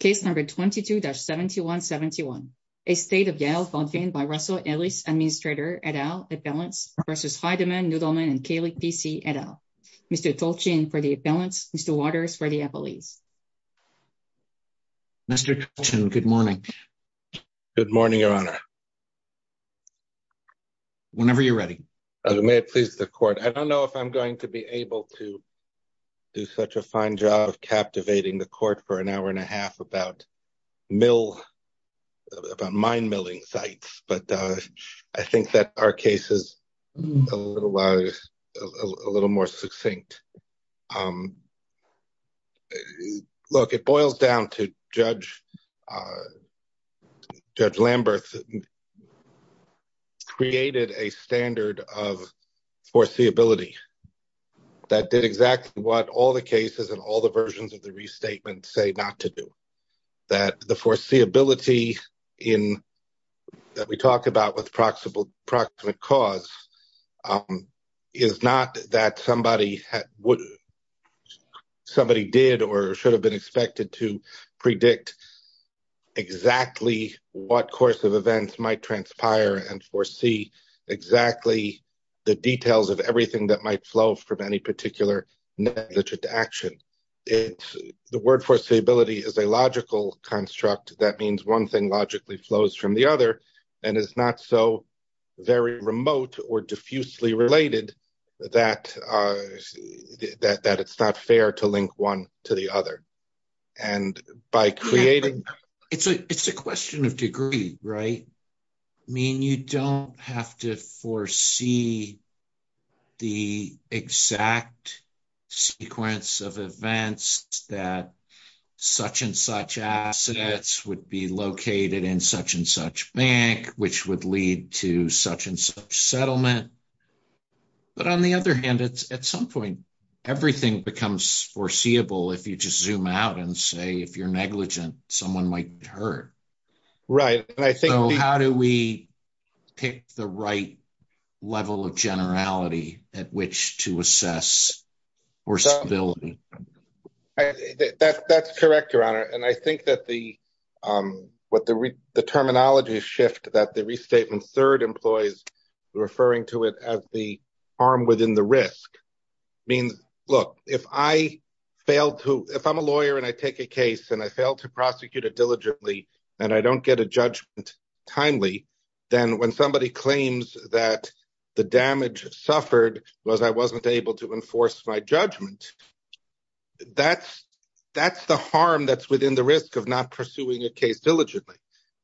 Case No. 22-7171, Estate of Yael Botvin v. Russell Ellis, Administrator, et al., Appellants v. Heideman, Nudelman & Kalik, P.C., et al. Mr. Tolchin for the Appellants, Mr. Waters for the Appellees. Mr. Tolchin, good morning. Good morning, Your Honor. Whenever you're ready. May it please the Court. I don't know if I'm going to be able to do such a fine job of captivating the Court for an hour and a half about mill, about mine milling sites, but I think that our case is a little more succinct. Look, it boils down to Judge Lamberth created a standard of foreseeability that did exactly what all the cases and all the versions of the restatement say not to do. That the foreseeability that we talk about with proximate cause is not that somebody did or should have been expected to predict exactly what course of events might transpire and foresee exactly the details of everything that might flow from any particular negligent action. The word foreseeability is a logical construct. That means one thing logically flows from the other and is not so very remote or diffusely related that it's not fair to link one to the other. It's a question of degree, right? I mean, you don't have to foresee the exact sequence of events that such and such assets would be located in such and such bank, which would lead to such and such settlement. But on the other hand, it's at some point, everything becomes foreseeable. If you just zoom out and say, if you're negligent, someone might hurt. Right? And I think how do we pick the right level of generality at which to assess? That's correct, your honor. And I think that the, what the terminology shift that the restatement 3rd employees referring to it as the arm within the risk. Look, if I failed to, if I'm a lawyer and I take a case and I failed to prosecute it diligently and I don't get a judgment timely, then when somebody claims that the damage suffered was, I wasn't able to enforce my judgment. That's that's the harm that's within the risk of not pursuing a case diligently.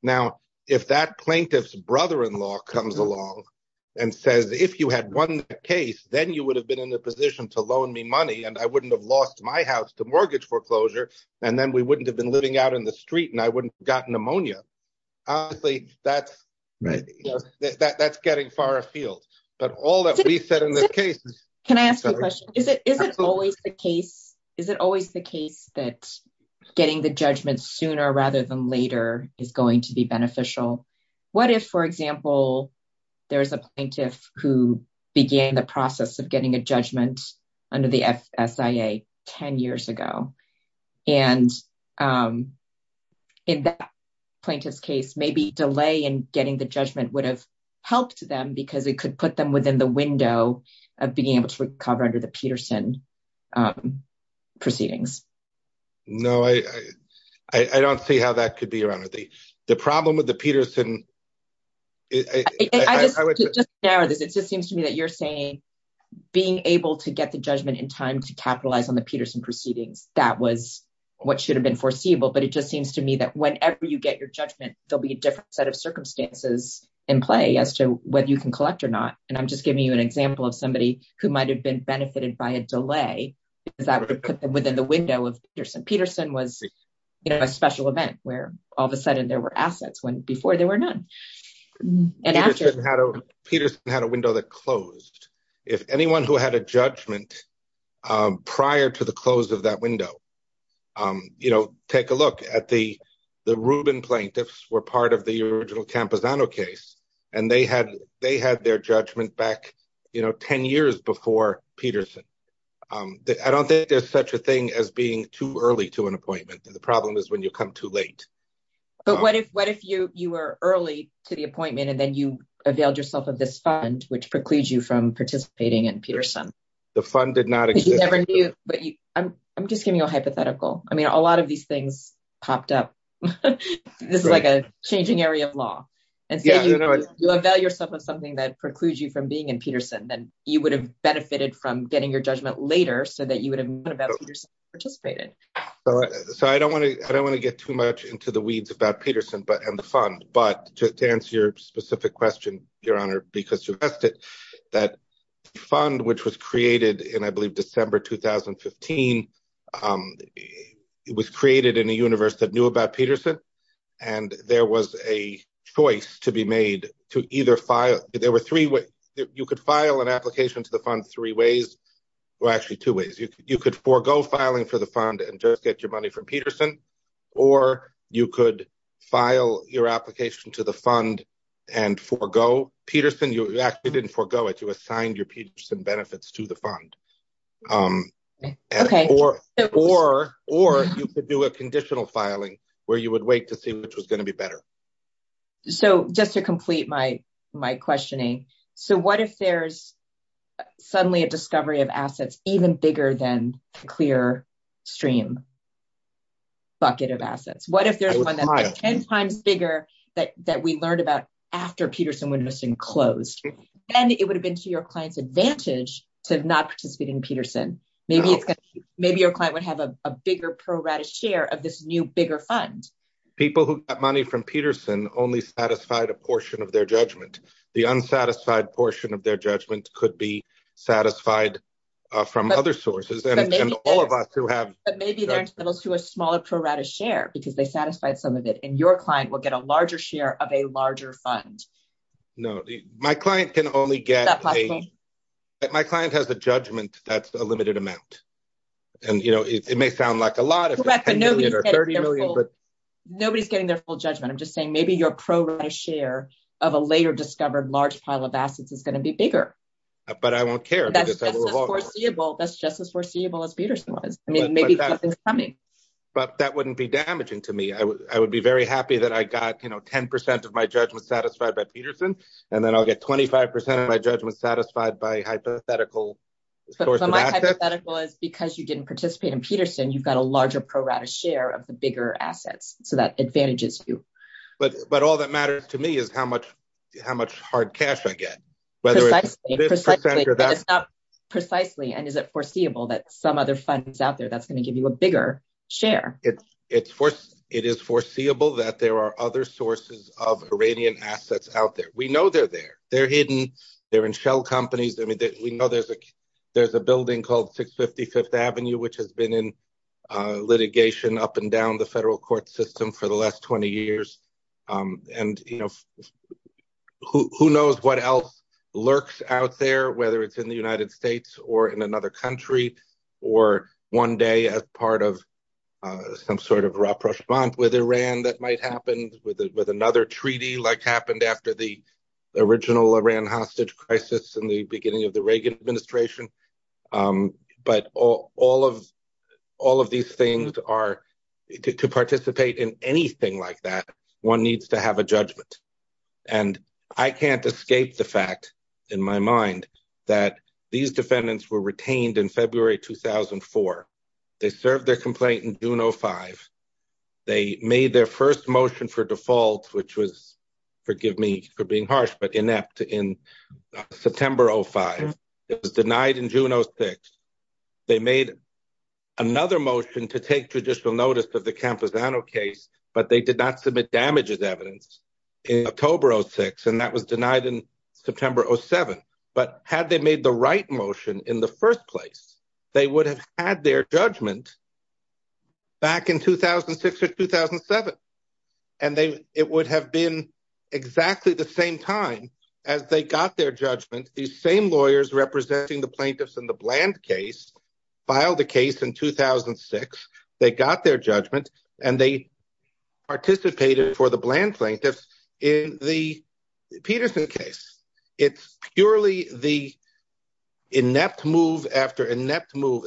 Now, if that plaintiff's brother in law comes along and says, if you had 1 case, then you would have been in a position to loan me money. And I wouldn't have lost my house to mortgage foreclosure and then we wouldn't have been living out in the street and I wouldn't gotten pneumonia. That's right. That's getting far afield. But all that we said in this case, can I ask you a question? Is it always the case? Is it always the case that getting the judgment sooner rather than later is going to be beneficial? What if, for example, there is a plaintiff who began the process of getting a judgment under the SIA 10 years ago? And in that plaintiff's case, maybe delay in getting the judgment would have helped them because it could put them within the window of being able to recover under the Peterson proceedings. No, I don't see how that could be around with the problem with the Peterson. I would just narrow this. It just seems to me that you're saying being able to get the judgment in time to capitalize on the Peterson proceedings, that was what should have been foreseeable. But it just seems to me that whenever you get your judgment, there'll be a different set of circumstances in play as to whether you can collect or not. And I'm just giving you an example of somebody who might have been benefited by a delay because that would put them within the window of Peterson. Peterson was a special event where all of a sudden there were assets before there were none. Peterson had a window that closed. If anyone who had a judgment prior to the close of that window, take a look at the Rubin plaintiffs were part of the original Camposano case, and they had their judgment back 10 years before Peterson. I don't think there's such a thing as being too early to an appointment. The problem is when you come too late. But what if you were early to the appointment and then you availed yourself of this fund, which precludes you from participating in Peterson? The fund did not exist. I'm just giving you a hypothetical. I mean, a lot of these things popped up. This is like a changing area of law. You avail yourself of something that precludes you from being in Peterson, then you would have benefited from getting your judgment later so that you would have participated. So I don't want to get too much into the weeds about Peterson and the fund, but to answer your specific question, Your Honor, because you've asked it, that fund, which was created in, I believe, December 2015, was created in a universe that knew about Peterson. And there was a choice to be made to either file. There were three ways you could file an application to the fund three ways. Well, actually, two ways you could forego filing for the fund and just get your money from Peterson, or you could file your application to the fund and forego Peterson. You actually didn't forego it. You assigned your Peterson benefits to the fund. Okay. Or you could do a conditional filing where you would wait to see which was going to be better. So just to complete my questioning. So what if there's suddenly a discovery of assets even bigger than a clear stream bucket of assets? What if there's one that's 10 times bigger that we learned about after Peterson-Windowson closed? Then it would have been to your client's advantage to not participate in Peterson. Maybe your client would have a bigger pro rata share of this new, bigger fund. People who got money from Peterson only satisfied a portion of their judgment. The unsatisfied portion of their judgment could be satisfied from other sources. But maybe they're entitled to a smaller pro rata share because they satisfied some of it. And your client will get a larger share of a larger fund. No, my client has a judgment that's a limited amount. And it may sound like a lot if it's 10 million or 30 million. Nobody's getting their full judgment. I'm just saying maybe your pro rata share of a later discovered large pile of assets is going to be bigger. But I won't care. That's just as foreseeable as Peterson was. Maybe something's coming. But that wouldn't be damaging to me. I would be very happy that I got 10% of my judgment satisfied by Peterson. And then I'll get 25% of my judgment satisfied by hypothetical sources of assets. But my hypothetical is because you didn't participate in Peterson, you've got a larger pro rata share of the bigger assets. So that advantages you. But all that matters to me is how much hard cash I get. Precisely. And is it foreseeable that some other funds out there that's going to give you a bigger share? It is foreseeable that there are other sources of Iranian assets out there. We know they're there. They're hidden. They're in shell companies. I mean, we know there's a there's a building called 650 Fifth Avenue, which has been in litigation up and down the federal court system for the last 20 years. And, you know, who knows what else lurks out there, whether it's in the United States or in another country or one day as part of some sort of rapprochement with Iran that might happen with another treaty like happened after the original Iran hostage crisis in the beginning of the Reagan administration. But all of all of these things are to participate in anything like that. One needs to have a judgment. And I can't escape the fact in my mind that these defendants were retained in February 2004. They served their complaint in June 05. They made their first motion for default, which was forgive me for being harsh, but inept in September 05. It was denied in June 06. They made another motion to take judicial notice of the Camposano case, but they did not submit damages evidence in October 06. And that was denied in September 07. But had they made the right motion in the first place, they would have had their judgment back in 2006 or 2007. And it would have been exactly the same time as they got their judgment. These same lawyers representing the plaintiffs in the Bland case filed the case in 2006. They got their judgment and they participated for the Bland plaintiffs in the Peterson case. It's purely the inept move after inept move.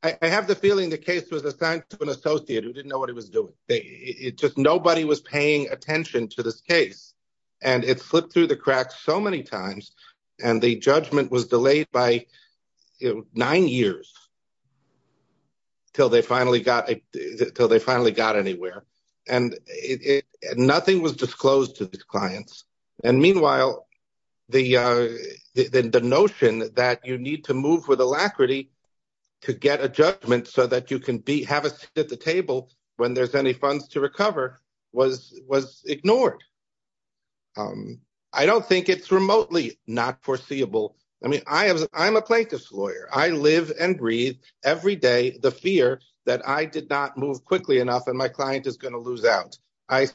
I have the feeling the case was assigned to an associate who didn't know what he was doing. It's just nobody was paying attention to this case. And it slipped through the cracks so many times. And the judgment was delayed by nine years till they finally got anywhere. And nothing was disclosed to these clients. And meanwhile, the notion that you need to move with alacrity to get a judgment so that you can have a seat at the table when there's any funds to recover was ignored. I don't think it's remotely not foreseeable. I mean, I'm a plaintiff's lawyer. I live and breathe every day the fear that I did not move quickly enough and my client is going to lose out. I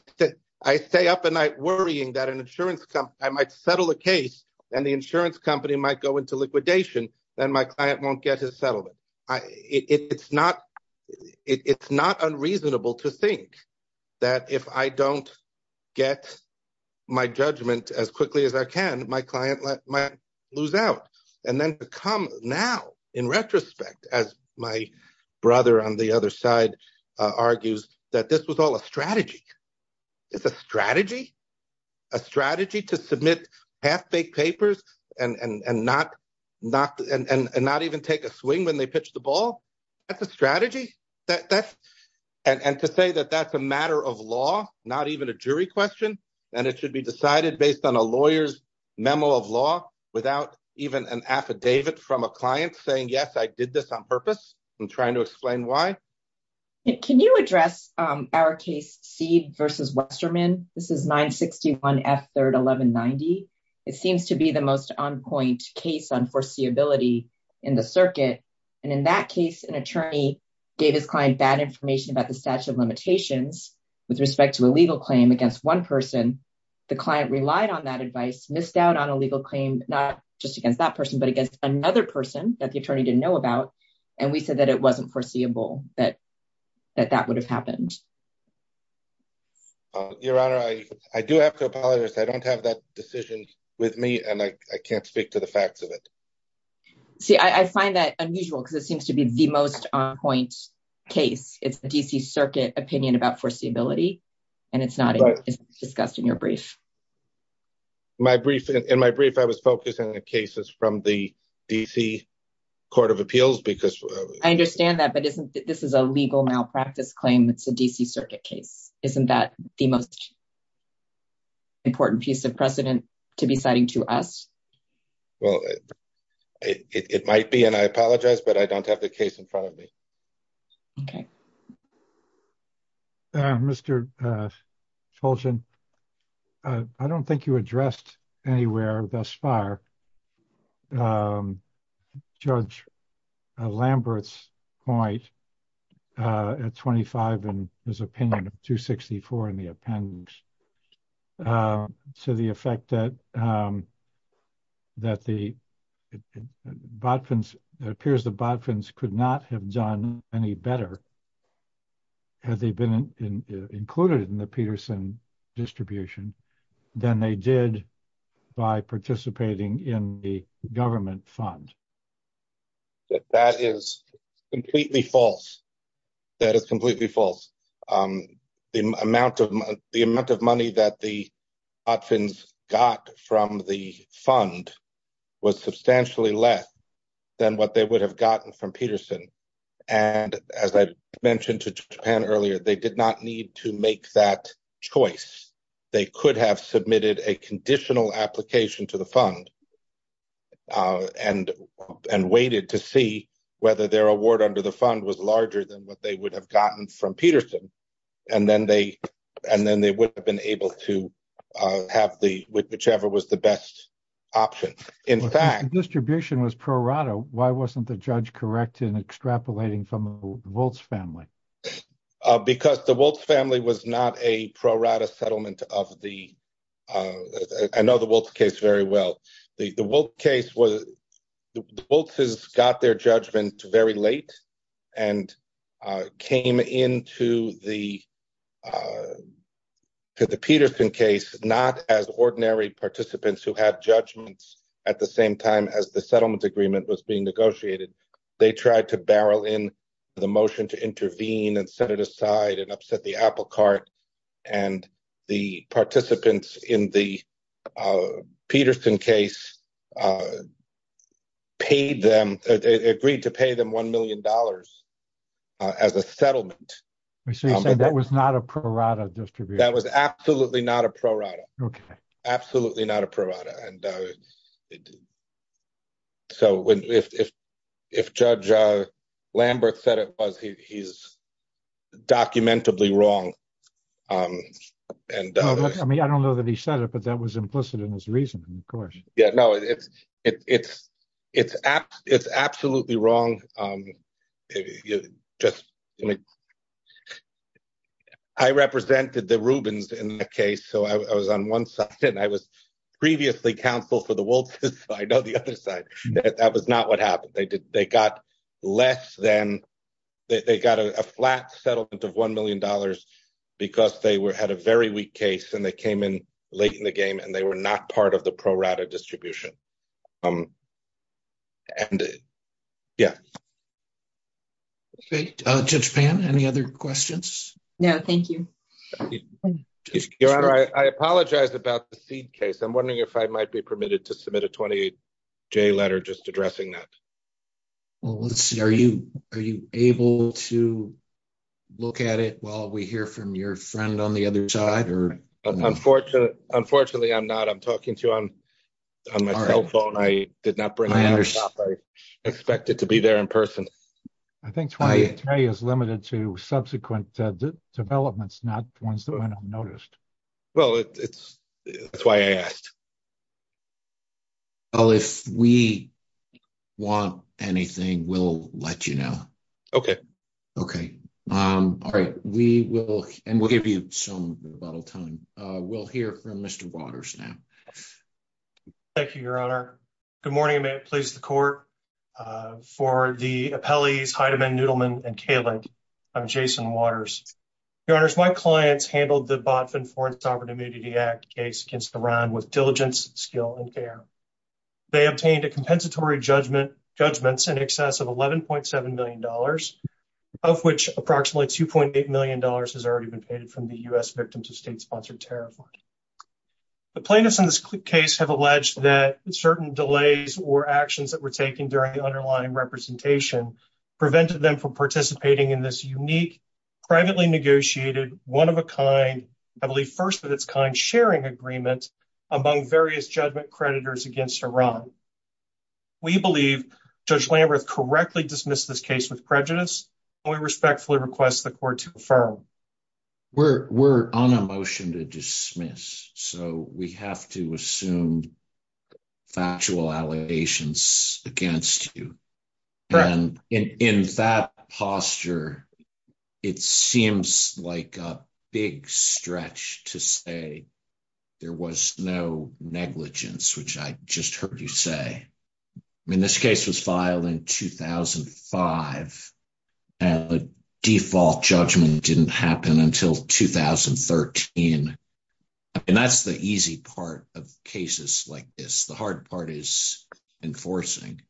stay up at night worrying that an insurance company might settle a case and the insurance company might go into liquidation and my client won't get his settlement. It's not unreasonable to think that if I don't get my judgment as quickly as I can, my client might lose out. And then to come now in retrospect, as my brother on the other side argues, that this was all a strategy. It's a strategy, a strategy to submit half-baked papers and not even take a swing when they pitch the ball. That's a strategy. And to say that that's a matter of law, not even a jury question, and it should be decided based on a lawyer's memo of law without even an affidavit from a client saying, yes, I did this on purpose. I'm trying to explain why. Can you address our case Seed v. Westerman? This is 961 F. 3rd 1190. It seems to be the most on-point case on foreseeability in the circuit. And in that case, an attorney gave his client bad information about the statute of limitations with respect to a legal claim against one person. And the client relied on that advice, missed out on a legal claim, not just against that person, but against another person that the attorney didn't know about. And we said that it wasn't foreseeable, that that would have happened. Your Honor, I do have to apologize. I don't have that decision with me, and I can't speak to the facts of it. See, I find that unusual because it seems to be the most on-point case. It's the D.C. Circuit opinion about foreseeability, and it's not discussed in your brief. In my brief, I was focused on the cases from the D.C. Court of Appeals. I understand that, but this is a legal malpractice claim. It's a D.C. Circuit case. Isn't that the most important piece of precedent to be citing to us? Well, it might be, and I apologize, but I don't have the case in front of me. Okay. Mr. Fulgen, I don't think you addressed anywhere thus far Judge Lambert's point at 25 in his opinion of 264 in the appendix. To the effect that it appears the Botvins could not have done any better, had they been included in the Peterson distribution, than they did by participating in the government fund. That is completely false. That is completely false. The amount of money that the Botvins got from the fund was substantially less than what they would have gotten from Peterson. And as I mentioned to Japan earlier, they did not need to make that choice. They could have submitted a conditional application to the fund and waited to see whether their award under the fund was larger than what they would have gotten from Peterson. And then they would have been able to have whichever was the best option. If the distribution was pro rata, why wasn't the judge correct in extrapolating from the Woltz family? Because the Woltz family was not a pro rata settlement of the – I know the Woltz case very well. The Woltz case was – the Woltzes got their judgment very late and came into the Peterson case not as ordinary participants who had judgments at the same time as the settlement agreement was being negotiated. They tried to barrel in the motion to intervene and set it aside and upset the apple cart. And the participants in the Peterson case agreed to pay them $1 million as a settlement. So you're saying that was not a pro rata distribution? That was absolutely not a pro rata. Absolutely not a pro rata. And so if Judge Lambert said it was, he's documentably wrong. I mean, I don't know that he said it, but that was implicit in his reasoning, of course. Yeah, no, it's absolutely wrong. Just – I mean, I represented the Rubens in the case, so I was on one side and I was previously counsel for the Woltzes, so I know the other side. That was not what happened. They got less than – they got a flat settlement of $1 million because they had a very weak case and they came in late in the game and they were not part of the pro rata distribution. And, yeah. Okay, Judge Pan, any other questions? No, thank you. Your Honor, I apologize about the Seed case. I'm wondering if I might be permitted to submit a 28-J letter just addressing that. Well, let's see. Are you able to look at it while we hear from your friend on the other side? Unfortunately, I'm not. I'm talking to you on my cell phone. I did not bring it. I expect it to be there in person. I think 28-J is limited to subsequent developments, not ones that went unnoticed. Well, that's why I asked. Well, if we want anything, we'll let you know. Okay. Okay. All right. We will – and we'll give you some rebuttal time. We'll hear from Mr. Waters now. Thank you, Your Honor. Good morning, and may it please the Court. For the appellees, Heideman, Neudelman, and Kalin, I'm Jason Waters. Your Honors, my clients handled the Botvin Foreign Sovereign Immunity Act case against Iran with diligence, skill, and care. They obtained a compensatory judgment in excess of $11.7 million, of which approximately $2.8 million has already been paid from the U.S. victim to state-sponsored tariff. The plaintiffs in this case have alleged that certain delays or actions that were taken during the underlying representation prevented them from participating in this unique, privately negotiated, one-of-a-kind, I believe first-of-its-kind sharing agreement among various judgment creditors against Iran. We believe Judge Lamberth correctly dismissed this case with prejudice, and we respectfully request the Court to affirm. We're on a motion to dismiss, so we have to assume factual allegations against you. In that posture, it seems like a big stretch to say there was no negligence, which I just heard you say. I mean, this case was filed in 2005, and the default judgment didn't happen until 2013. I mean, that's the easy part of cases like this. The hard part is enforcing.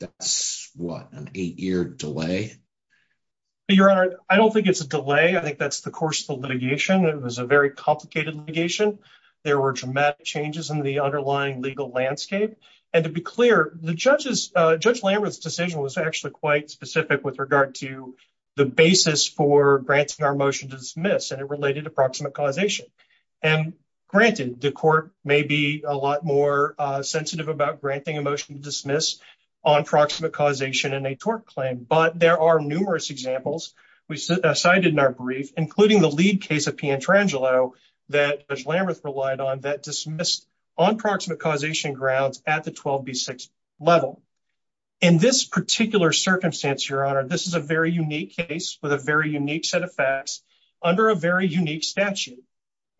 That's, what, an eight-year delay? Your Honor, I don't think it's a delay. I think that's the course of the litigation. It was a very complicated litigation. There were dramatic changes in the underlying legal landscape. And to be clear, Judge Lamberth's decision was actually quite specific with regard to the basis for granting our motion to dismiss, and it related to proximate causation. And granted, the Court may be a lot more sensitive about granting a motion to dismiss on proximate causation in a tort claim. But there are numerous examples we cited in our brief, including the lead case of Pietrangelo that Judge Lamberth relied on that dismissed on proximate causation grounds at the 12b6 level. In this particular circumstance, Your Honor, this is a very unique case with a very unique set of facts under a very unique statute.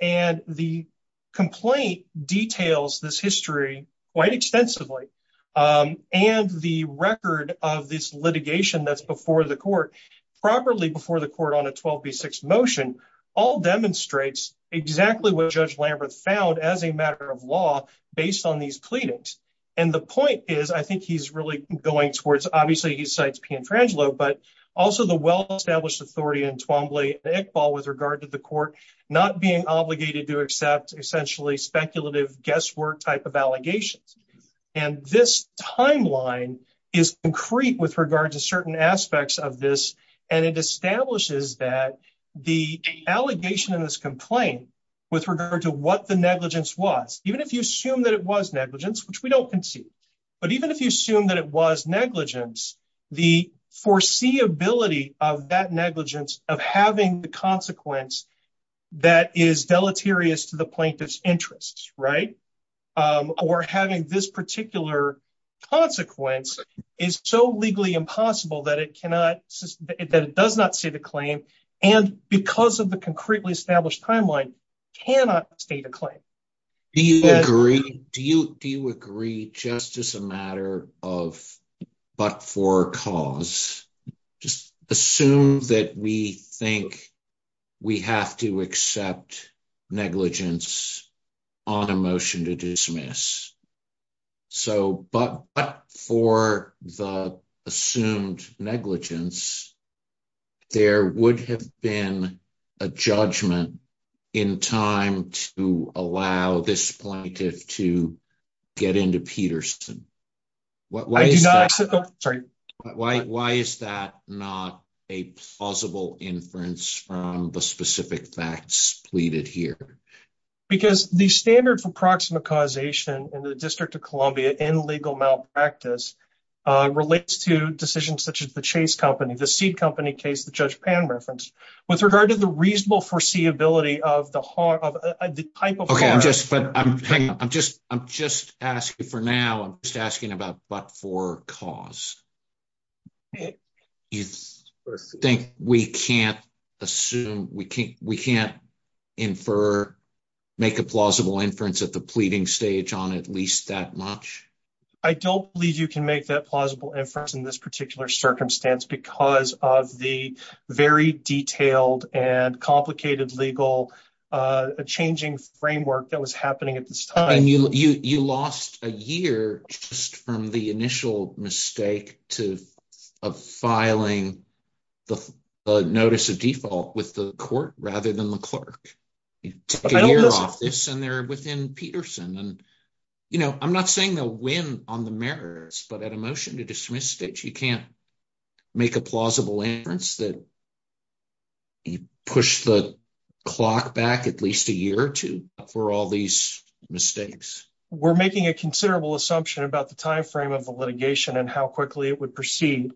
And the complaint details this history quite extensively. And the record of this litigation that's before the Court, properly before the Court on a 12b6 motion, all demonstrates exactly what Judge Lamberth found as a matter of law based on these pleadings. And the point is, I think he's really going towards, obviously he cites Pietrangelo, but also the well-established authority in Twombly and Iqbal with regard to the Court not being obligated to accept essentially speculative guesswork type of allegations. And this timeline is concrete with regard to certain aspects of this, and it establishes that the allegation in this complaint with regard to what the negligence was, even if you assume that it was negligence, which we don't concede, but even if you assume that it was negligence, the foreseeability of that negligence of having the consequence that is deleterious to the plaintiff's interests, right? Or having this particular consequence is so legally impossible that it does not state a claim, and because of the concretely established timeline, cannot state a claim. Do you agree just as a matter of but for cause, just assume that we think we have to accept negligence on a motion to dismiss. But for the assumed negligence, there would have been a judgment in time to allow this plaintiff to get into Peterson. Why is that not a plausible inference from the specific facts pleaded here? Because the standard for proximate causation in the District of Columbia in legal malpractice relates to decisions such as the Chase Company, the Seed Company case that Judge Pan referenced. With regard to the reasonable foreseeability of the type of… Okay, I'm just asking for now, I'm just asking about but for cause. You think we can't infer, make a plausible inference at the pleading stage on at least that much? I don't believe you can make that plausible inference in this particular circumstance because of the very detailed and complicated legal changing framework that was happening at this time. You lost a year just from the initial mistake of filing the notice of default with the court rather than the clerk. You took a year off this and they're within Peterson. I'm not saying they'll win on the merits, but at a motion to dismiss stage, you can't make a plausible inference that you pushed the clock back at least a year or two for all these mistakes. We're making a considerable assumption about the timeframe of the litigation and how quickly it would proceed.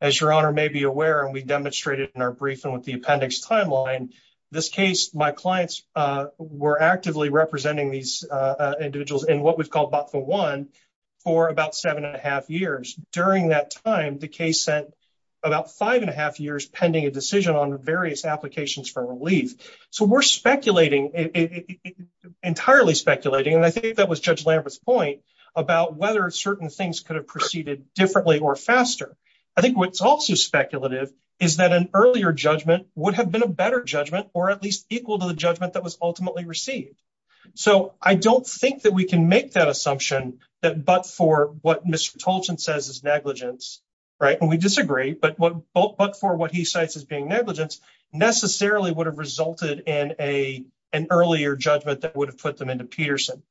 As Your Honor may be aware, and we demonstrated in our briefing with the appendix timeline, this case, my clients were actively representing these individuals in what we've called BOTFL1 for about seven and a half years. During that time, the case sent about five and a half years pending a decision on various applications for relief. So we're speculating, entirely speculating, and I think that was Judge Lambert's point about whether certain things could have proceeded differently or faster. I think what's also speculative is that an earlier judgment would have been a better judgment or at least equal to the judgment that was ultimately received. So I don't think that we can make that assumption that but for what Mr. Tolchin says is negligence, right? And we disagree, but for what he cites as being negligence necessarily would have resulted in an earlier judgment that would have put them into Peterson.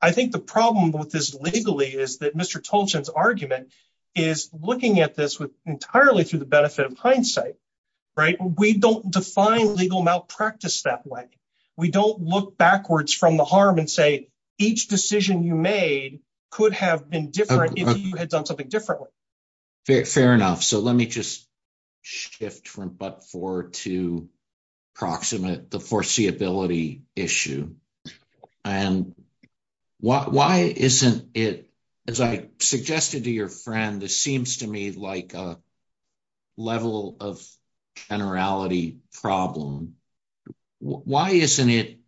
I think the problem with this legally is that Mr. Tolchin's argument is looking at this entirely through the benefit of hindsight, right? We don't define legal malpractice that way. We don't look backwards from the harm and say each decision you made could have been different if you had done something differently. Fair enough. So let me just shift from but for to proximate the foreseeability issue. And why isn't it, as I suggested to your friend, this seems to me like a level of generality problem. Why isn't it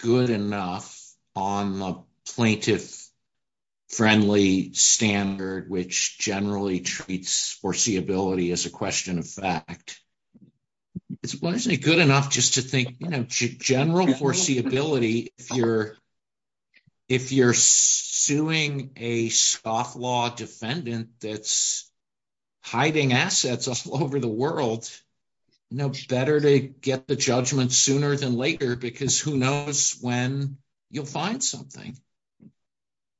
good enough on the plaintiff friendly standard, which generally treats foreseeability as a question of fact? Why isn't it good enough just to think general foreseeability if you're suing a scofflaw defendant that's hiding assets all over the world, better to get the judgment sooner than later because who knows when you'll find something?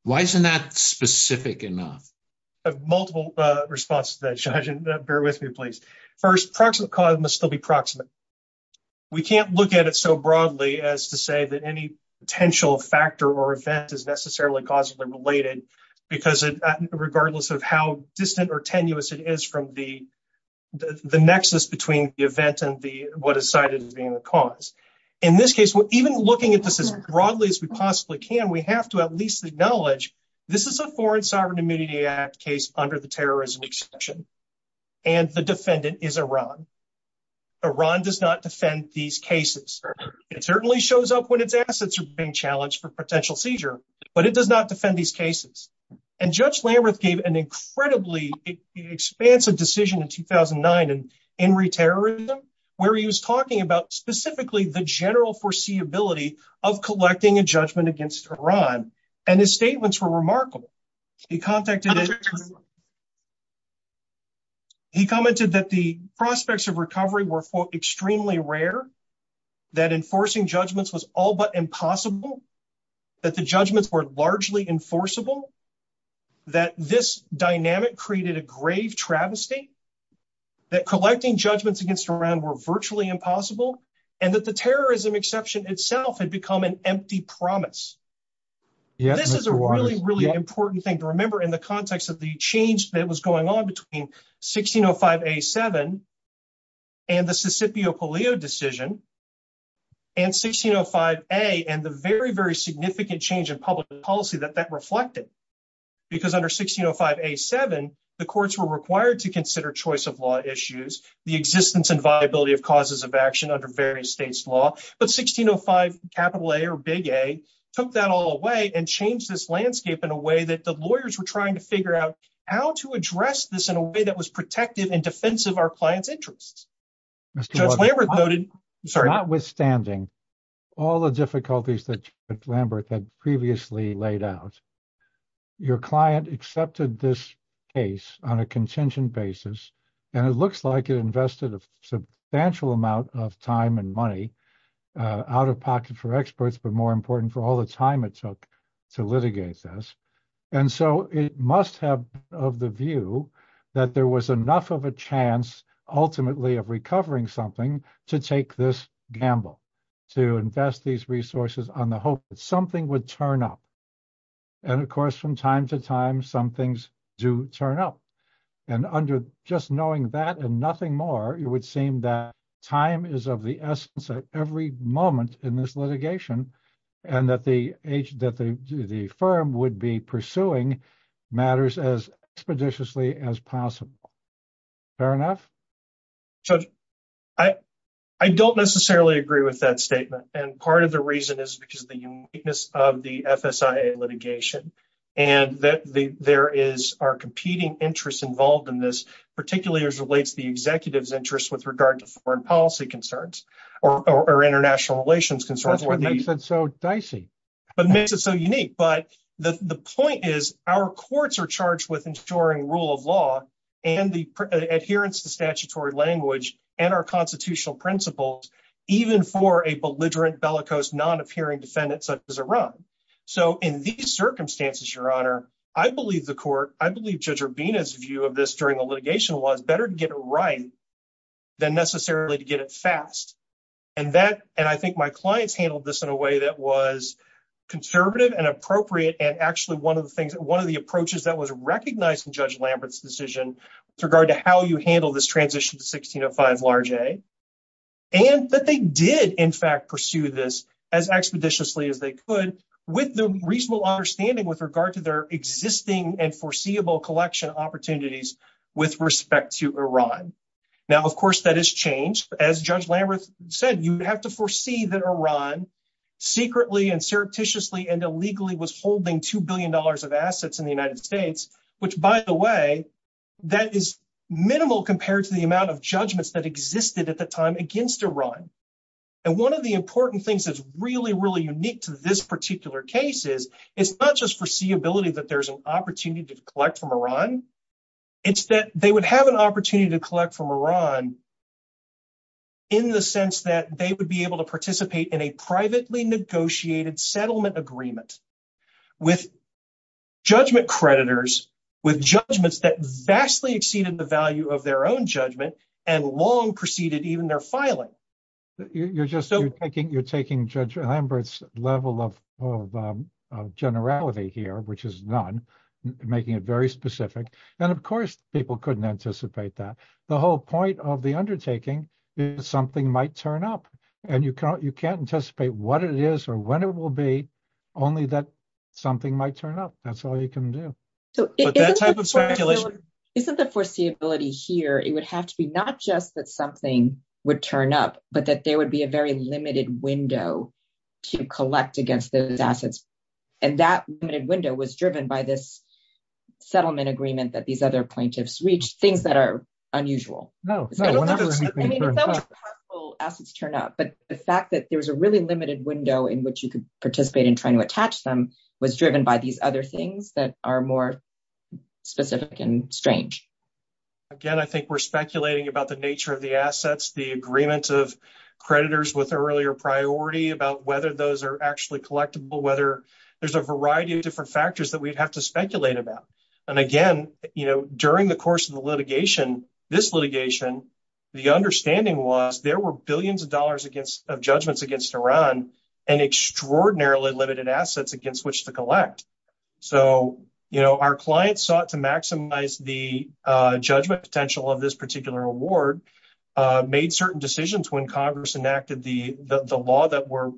Why isn't that specific enough? I have multiple responses to that, Judge, and bear with me, please. First, proximate cause must still be proximate. We can't look at it so broadly as to say that any potential factor or event is necessarily causally related because regardless of how distant or tenuous it is from the nexus between the event and what is cited as being the cause. In this case, even looking at this as broadly as we possibly can, we have to at least acknowledge this is a Foreign Sovereign Immunity Act case under the terrorism exception, and the defendant is Iran. Iran does not defend these cases. It certainly shows up when its assets are being challenged for potential seizure, but it does not defend these cases. And Judge Lamberth gave an incredibly expansive decision in 2009 in re-terrorism where he was talking about specifically the general foreseeability of collecting a judgment against Iran, and his statements were remarkable. He commented that the prospects of recovery were, quote, extremely rare, that enforcing judgments was all but impossible, that the judgments were largely enforceable, that this dynamic created a grave travesty, that collecting judgments against Iran were virtually impossible, and that the terrorism exception itself had become an empty promise. This is a really, really important thing to remember in the context of the change that was going on between 1605A7 and the Sisipio-Polio decision, and 1605A and the very, very significant change in public policy that that reflected because under 1605A7, the courts were required to consider choice of law issues, the existence and viability of causes of action under various states' law, but 1605A or Big A took that all away and changed this landscape in a way that the lawyers were trying to figure out how to address this in a way that was protective and defensive of our clients' interests. Judge Lamberth noted... Notwithstanding all the difficulties that Judge Lamberth had previously laid out, your client accepted this case on a contingent basis, and it looks like it invested a substantial amount of time and money out of pocket for experts, but more important, for all the time it took to litigate this, and so it must have been of the view that there was enough of a chance, ultimately, of recovering something to take this gamble, to invest these resources on the hope that something would turn up. And, of course, from time to time, some things do turn up, and under just knowing that and nothing more, it would seem that time is of the essence at every moment in this litigation and that the firm would be pursuing matters as expeditiously as possible. Fair enough? Judge, I don't necessarily agree with that statement, and part of the reason is because of the uniqueness of the FSIA litigation and that there are competing interests involved in this, particularly as it relates to the executive's interest with regard to foreign policy concerns or international relations concerns. That's what makes it so dicey. It makes it so unique, but the point is our courts are charged with ensuring rule of law and the adherence to statutory language and our constitutional principles, even for a belligerent, bellicose, non-appearing defendant such as Iran. So in these circumstances, Your Honor, I believe the court, I believe Judge Urbina's view of this during the litigation was better to get it right than necessarily to get it fast. And I think my clients handled this in a way that was conservative and appropriate and actually one of the approaches that was recognized in Judge Lambert's decision with regard to how you handle this transition to 1605 large A was that they did, in fact, pursue this as expeditiously as they could with the reasonable understanding with regard to their existing and foreseeable collection opportunities with respect to Iran. Now, of course, that has changed. As Judge Lambert said, you have to foresee that Iran secretly and surreptitiously and illegally was holding $2 billion of assets in the United States, which, by the way, that is minimal compared to the amount of judgments that existed at the time against Iran. And one of the important things that's really, really unique to this particular case is it's not just foreseeability that there's an opportunity to collect from Iran. It's that they would have an opportunity to collect from Iran in the sense that they would be able to participate in a privately negotiated settlement agreement with judgment creditors, with judgments that vastly exceeded the value of their own judgment and long preceded even their filing. You're taking Judge Lambert's level of generality here, which is none, making it very specific. And of course, people couldn't anticipate that. The whole point of the undertaking is something might turn up and you can't anticipate what it is or when it will be, only that something might turn up. That's all you can do. Isn't the foreseeability here, it would have to be not just that something would turn up, but that there would be a very limited window to collect against those assets. And that limited window was driven by this settlement agreement that these other plaintiffs reached, things that are unusual. I mean, if that was possible, assets turn up. But the fact that there was a really limited window in which you could participate in trying to attach them was driven by these other things that are more specific and strange. Again, I think we're speculating about the nature of the assets, the agreement of creditors with earlier priority, about whether those are actually collectible, whether there's a variety of different factors that we'd have to speculate about. And again, during the course of the litigation, this litigation, the understanding was there were billions of dollars of judgments against Iran and extraordinarily limited assets in which to collect. So our clients sought to maximize the judgment potential of this particular award, made certain decisions when Congress enacted the law that were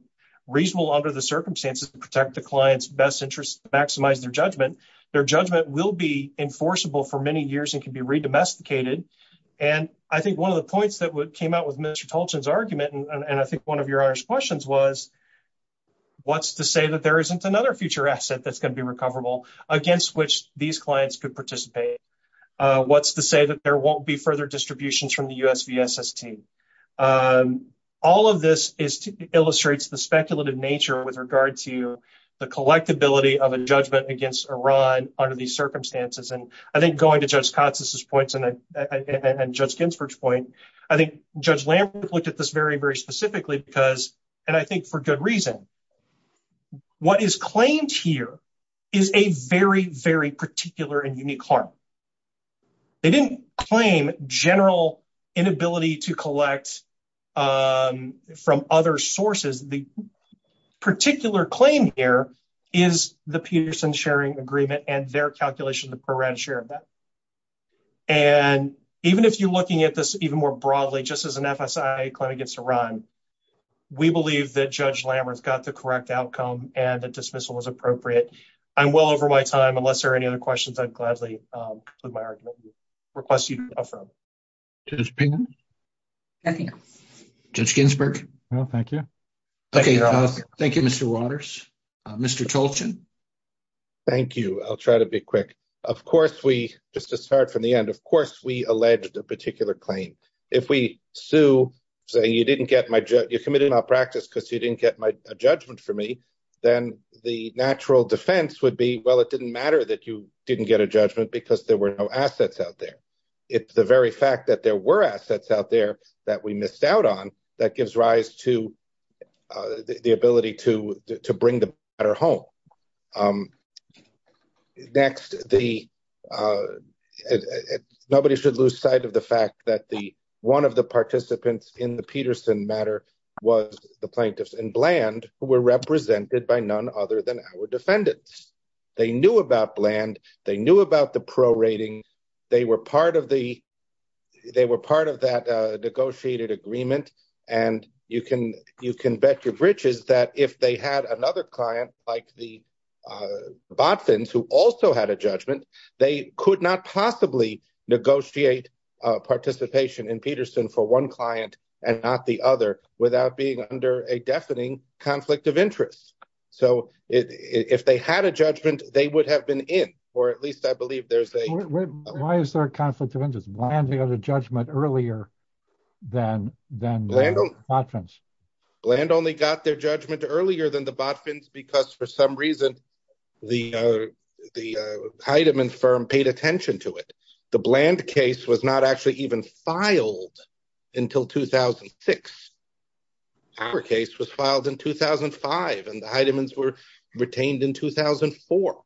reasonable under the circumstances to protect the client's best interest to maximize their judgment. Their judgment will be enforceable for many years and can be redomesticated. And I think one of the points that came out with Mr. Tolchin's argument, and I think one of your questions was, what's to say that there isn't another future asset that's going to be recoverable against which these clients could participate? What's to say that there won't be further distributions from the USVSST? All of this illustrates the speculative nature with regard to the collectability of a judgment against Iran under these circumstances. And I think going to Judge Katsas' points and Judge Ginsburg's point, I think Judge Lambert looked at this very, very specifically because, and I think for good reason. What is claimed here is a very, very particular and unique harm. They didn't claim general inability to collect from other sources. The particular claim here is the Peterson Sharing Agreement and their calculation of the pro-rata share of that. And even if you're looking at this even more broadly, just as an FSI claim against Iran, we believe that Judge Lambert's got the correct outcome and the dismissal was appropriate. I'm well over my time. Unless there are any other questions, I'd gladly conclude my argument and request you to go from. Judge Pena? Nothing. Judge Ginsburg? No, thank you. Okay, thank you, Mr. Waters. Mr. Tolchin? Thank you. I'll try to be quick. Of course, we, just to start from the end, of course, we alleged a particular claim. If we sue saying you committed malpractice because you didn't get a judgment from me, then the natural defense would be, well, it didn't matter that you didn't get a judgment because there were no assets out there. It's the very fact that there were assets out there that we missed out on that gives rise to the ability to bring the matter home. Next, the, nobody should lose sight of the fact that the, one of the participants in the Peterson matter was the plaintiffs in Bland who were represented by none other than our defendants. They knew about Bland. They knew about the prorating. They were part of the, they were part of that negotiated agreement and you can, you can bet your britches that if they had another client like the, the Botvinns, who also had a judgment, they could not possibly negotiate participation in Peterson for one client and not the other without being under a deafening conflict of interest. So if they had a judgment, they would have been in, or at least I believe there's a- Why is there a conflict of interest? Bland had a judgment earlier than, than the Botvinns. Bland only got their judgment earlier than the Botvinns because for some reason the, the Heidemann firm paid attention to it. The Bland case was not actually even filed until 2006. Our case was filed in 2005 and the Heidemanns were retained in 2004.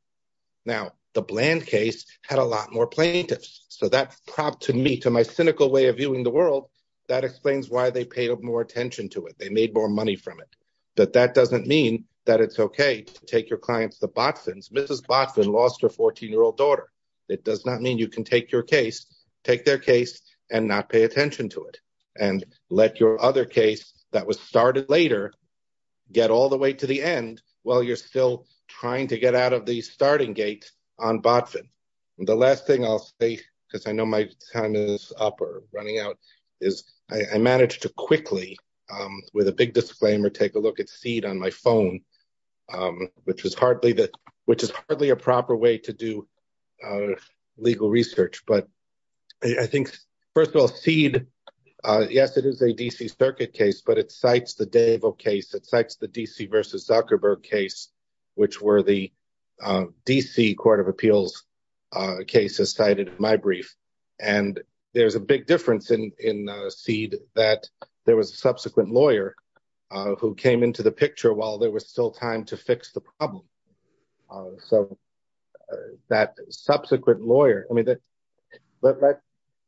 Now, the Bland case had a lot more plaintiffs. So that propped to me, to my cynical way of viewing the world, that explains why they paid more attention to it. They made more money from it. But that doesn't mean that it's okay to take your clients to Botvinns. Mrs. Botvinn lost her 14-year-old daughter. It does not mean you can take your case, take their case, and not pay attention to it and let your other case that was started later get all the way to the end while you're still trying to get out of the starting gate on Botvinn. And the last thing I'll say, because I know my time is up or running out, is I managed to quickly, with a big disclaimer, take a look at Seed on my phone, which is hardly a proper way to do legal research. But I think, first of all, Seed, yes, it is a D.C. Circuit case, but it cites the Davell case. It cites the D.C. v Zuckerberg case, which were the D.C. Court of Appeals cases cited in my brief. And there's a big difference in Seed that there was a subsequent lawyer who came into the picture while there was still time to fix the problem. So that subsequent lawyer, I mean,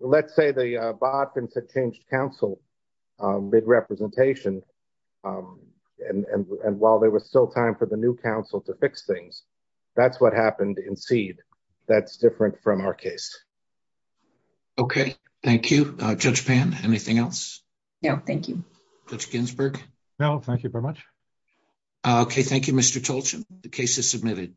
let's say the Botvinns had changed counsel mid-representation, and while there was still time for the new counsel to fix things, that's what happened in Seed. That's different from our case. Okay, thank you. Judge Pan, anything else? No, thank you. Judge Ginsburg? No, thank you very much. Okay, thank you, Mr. Tolchin. The case is submitted.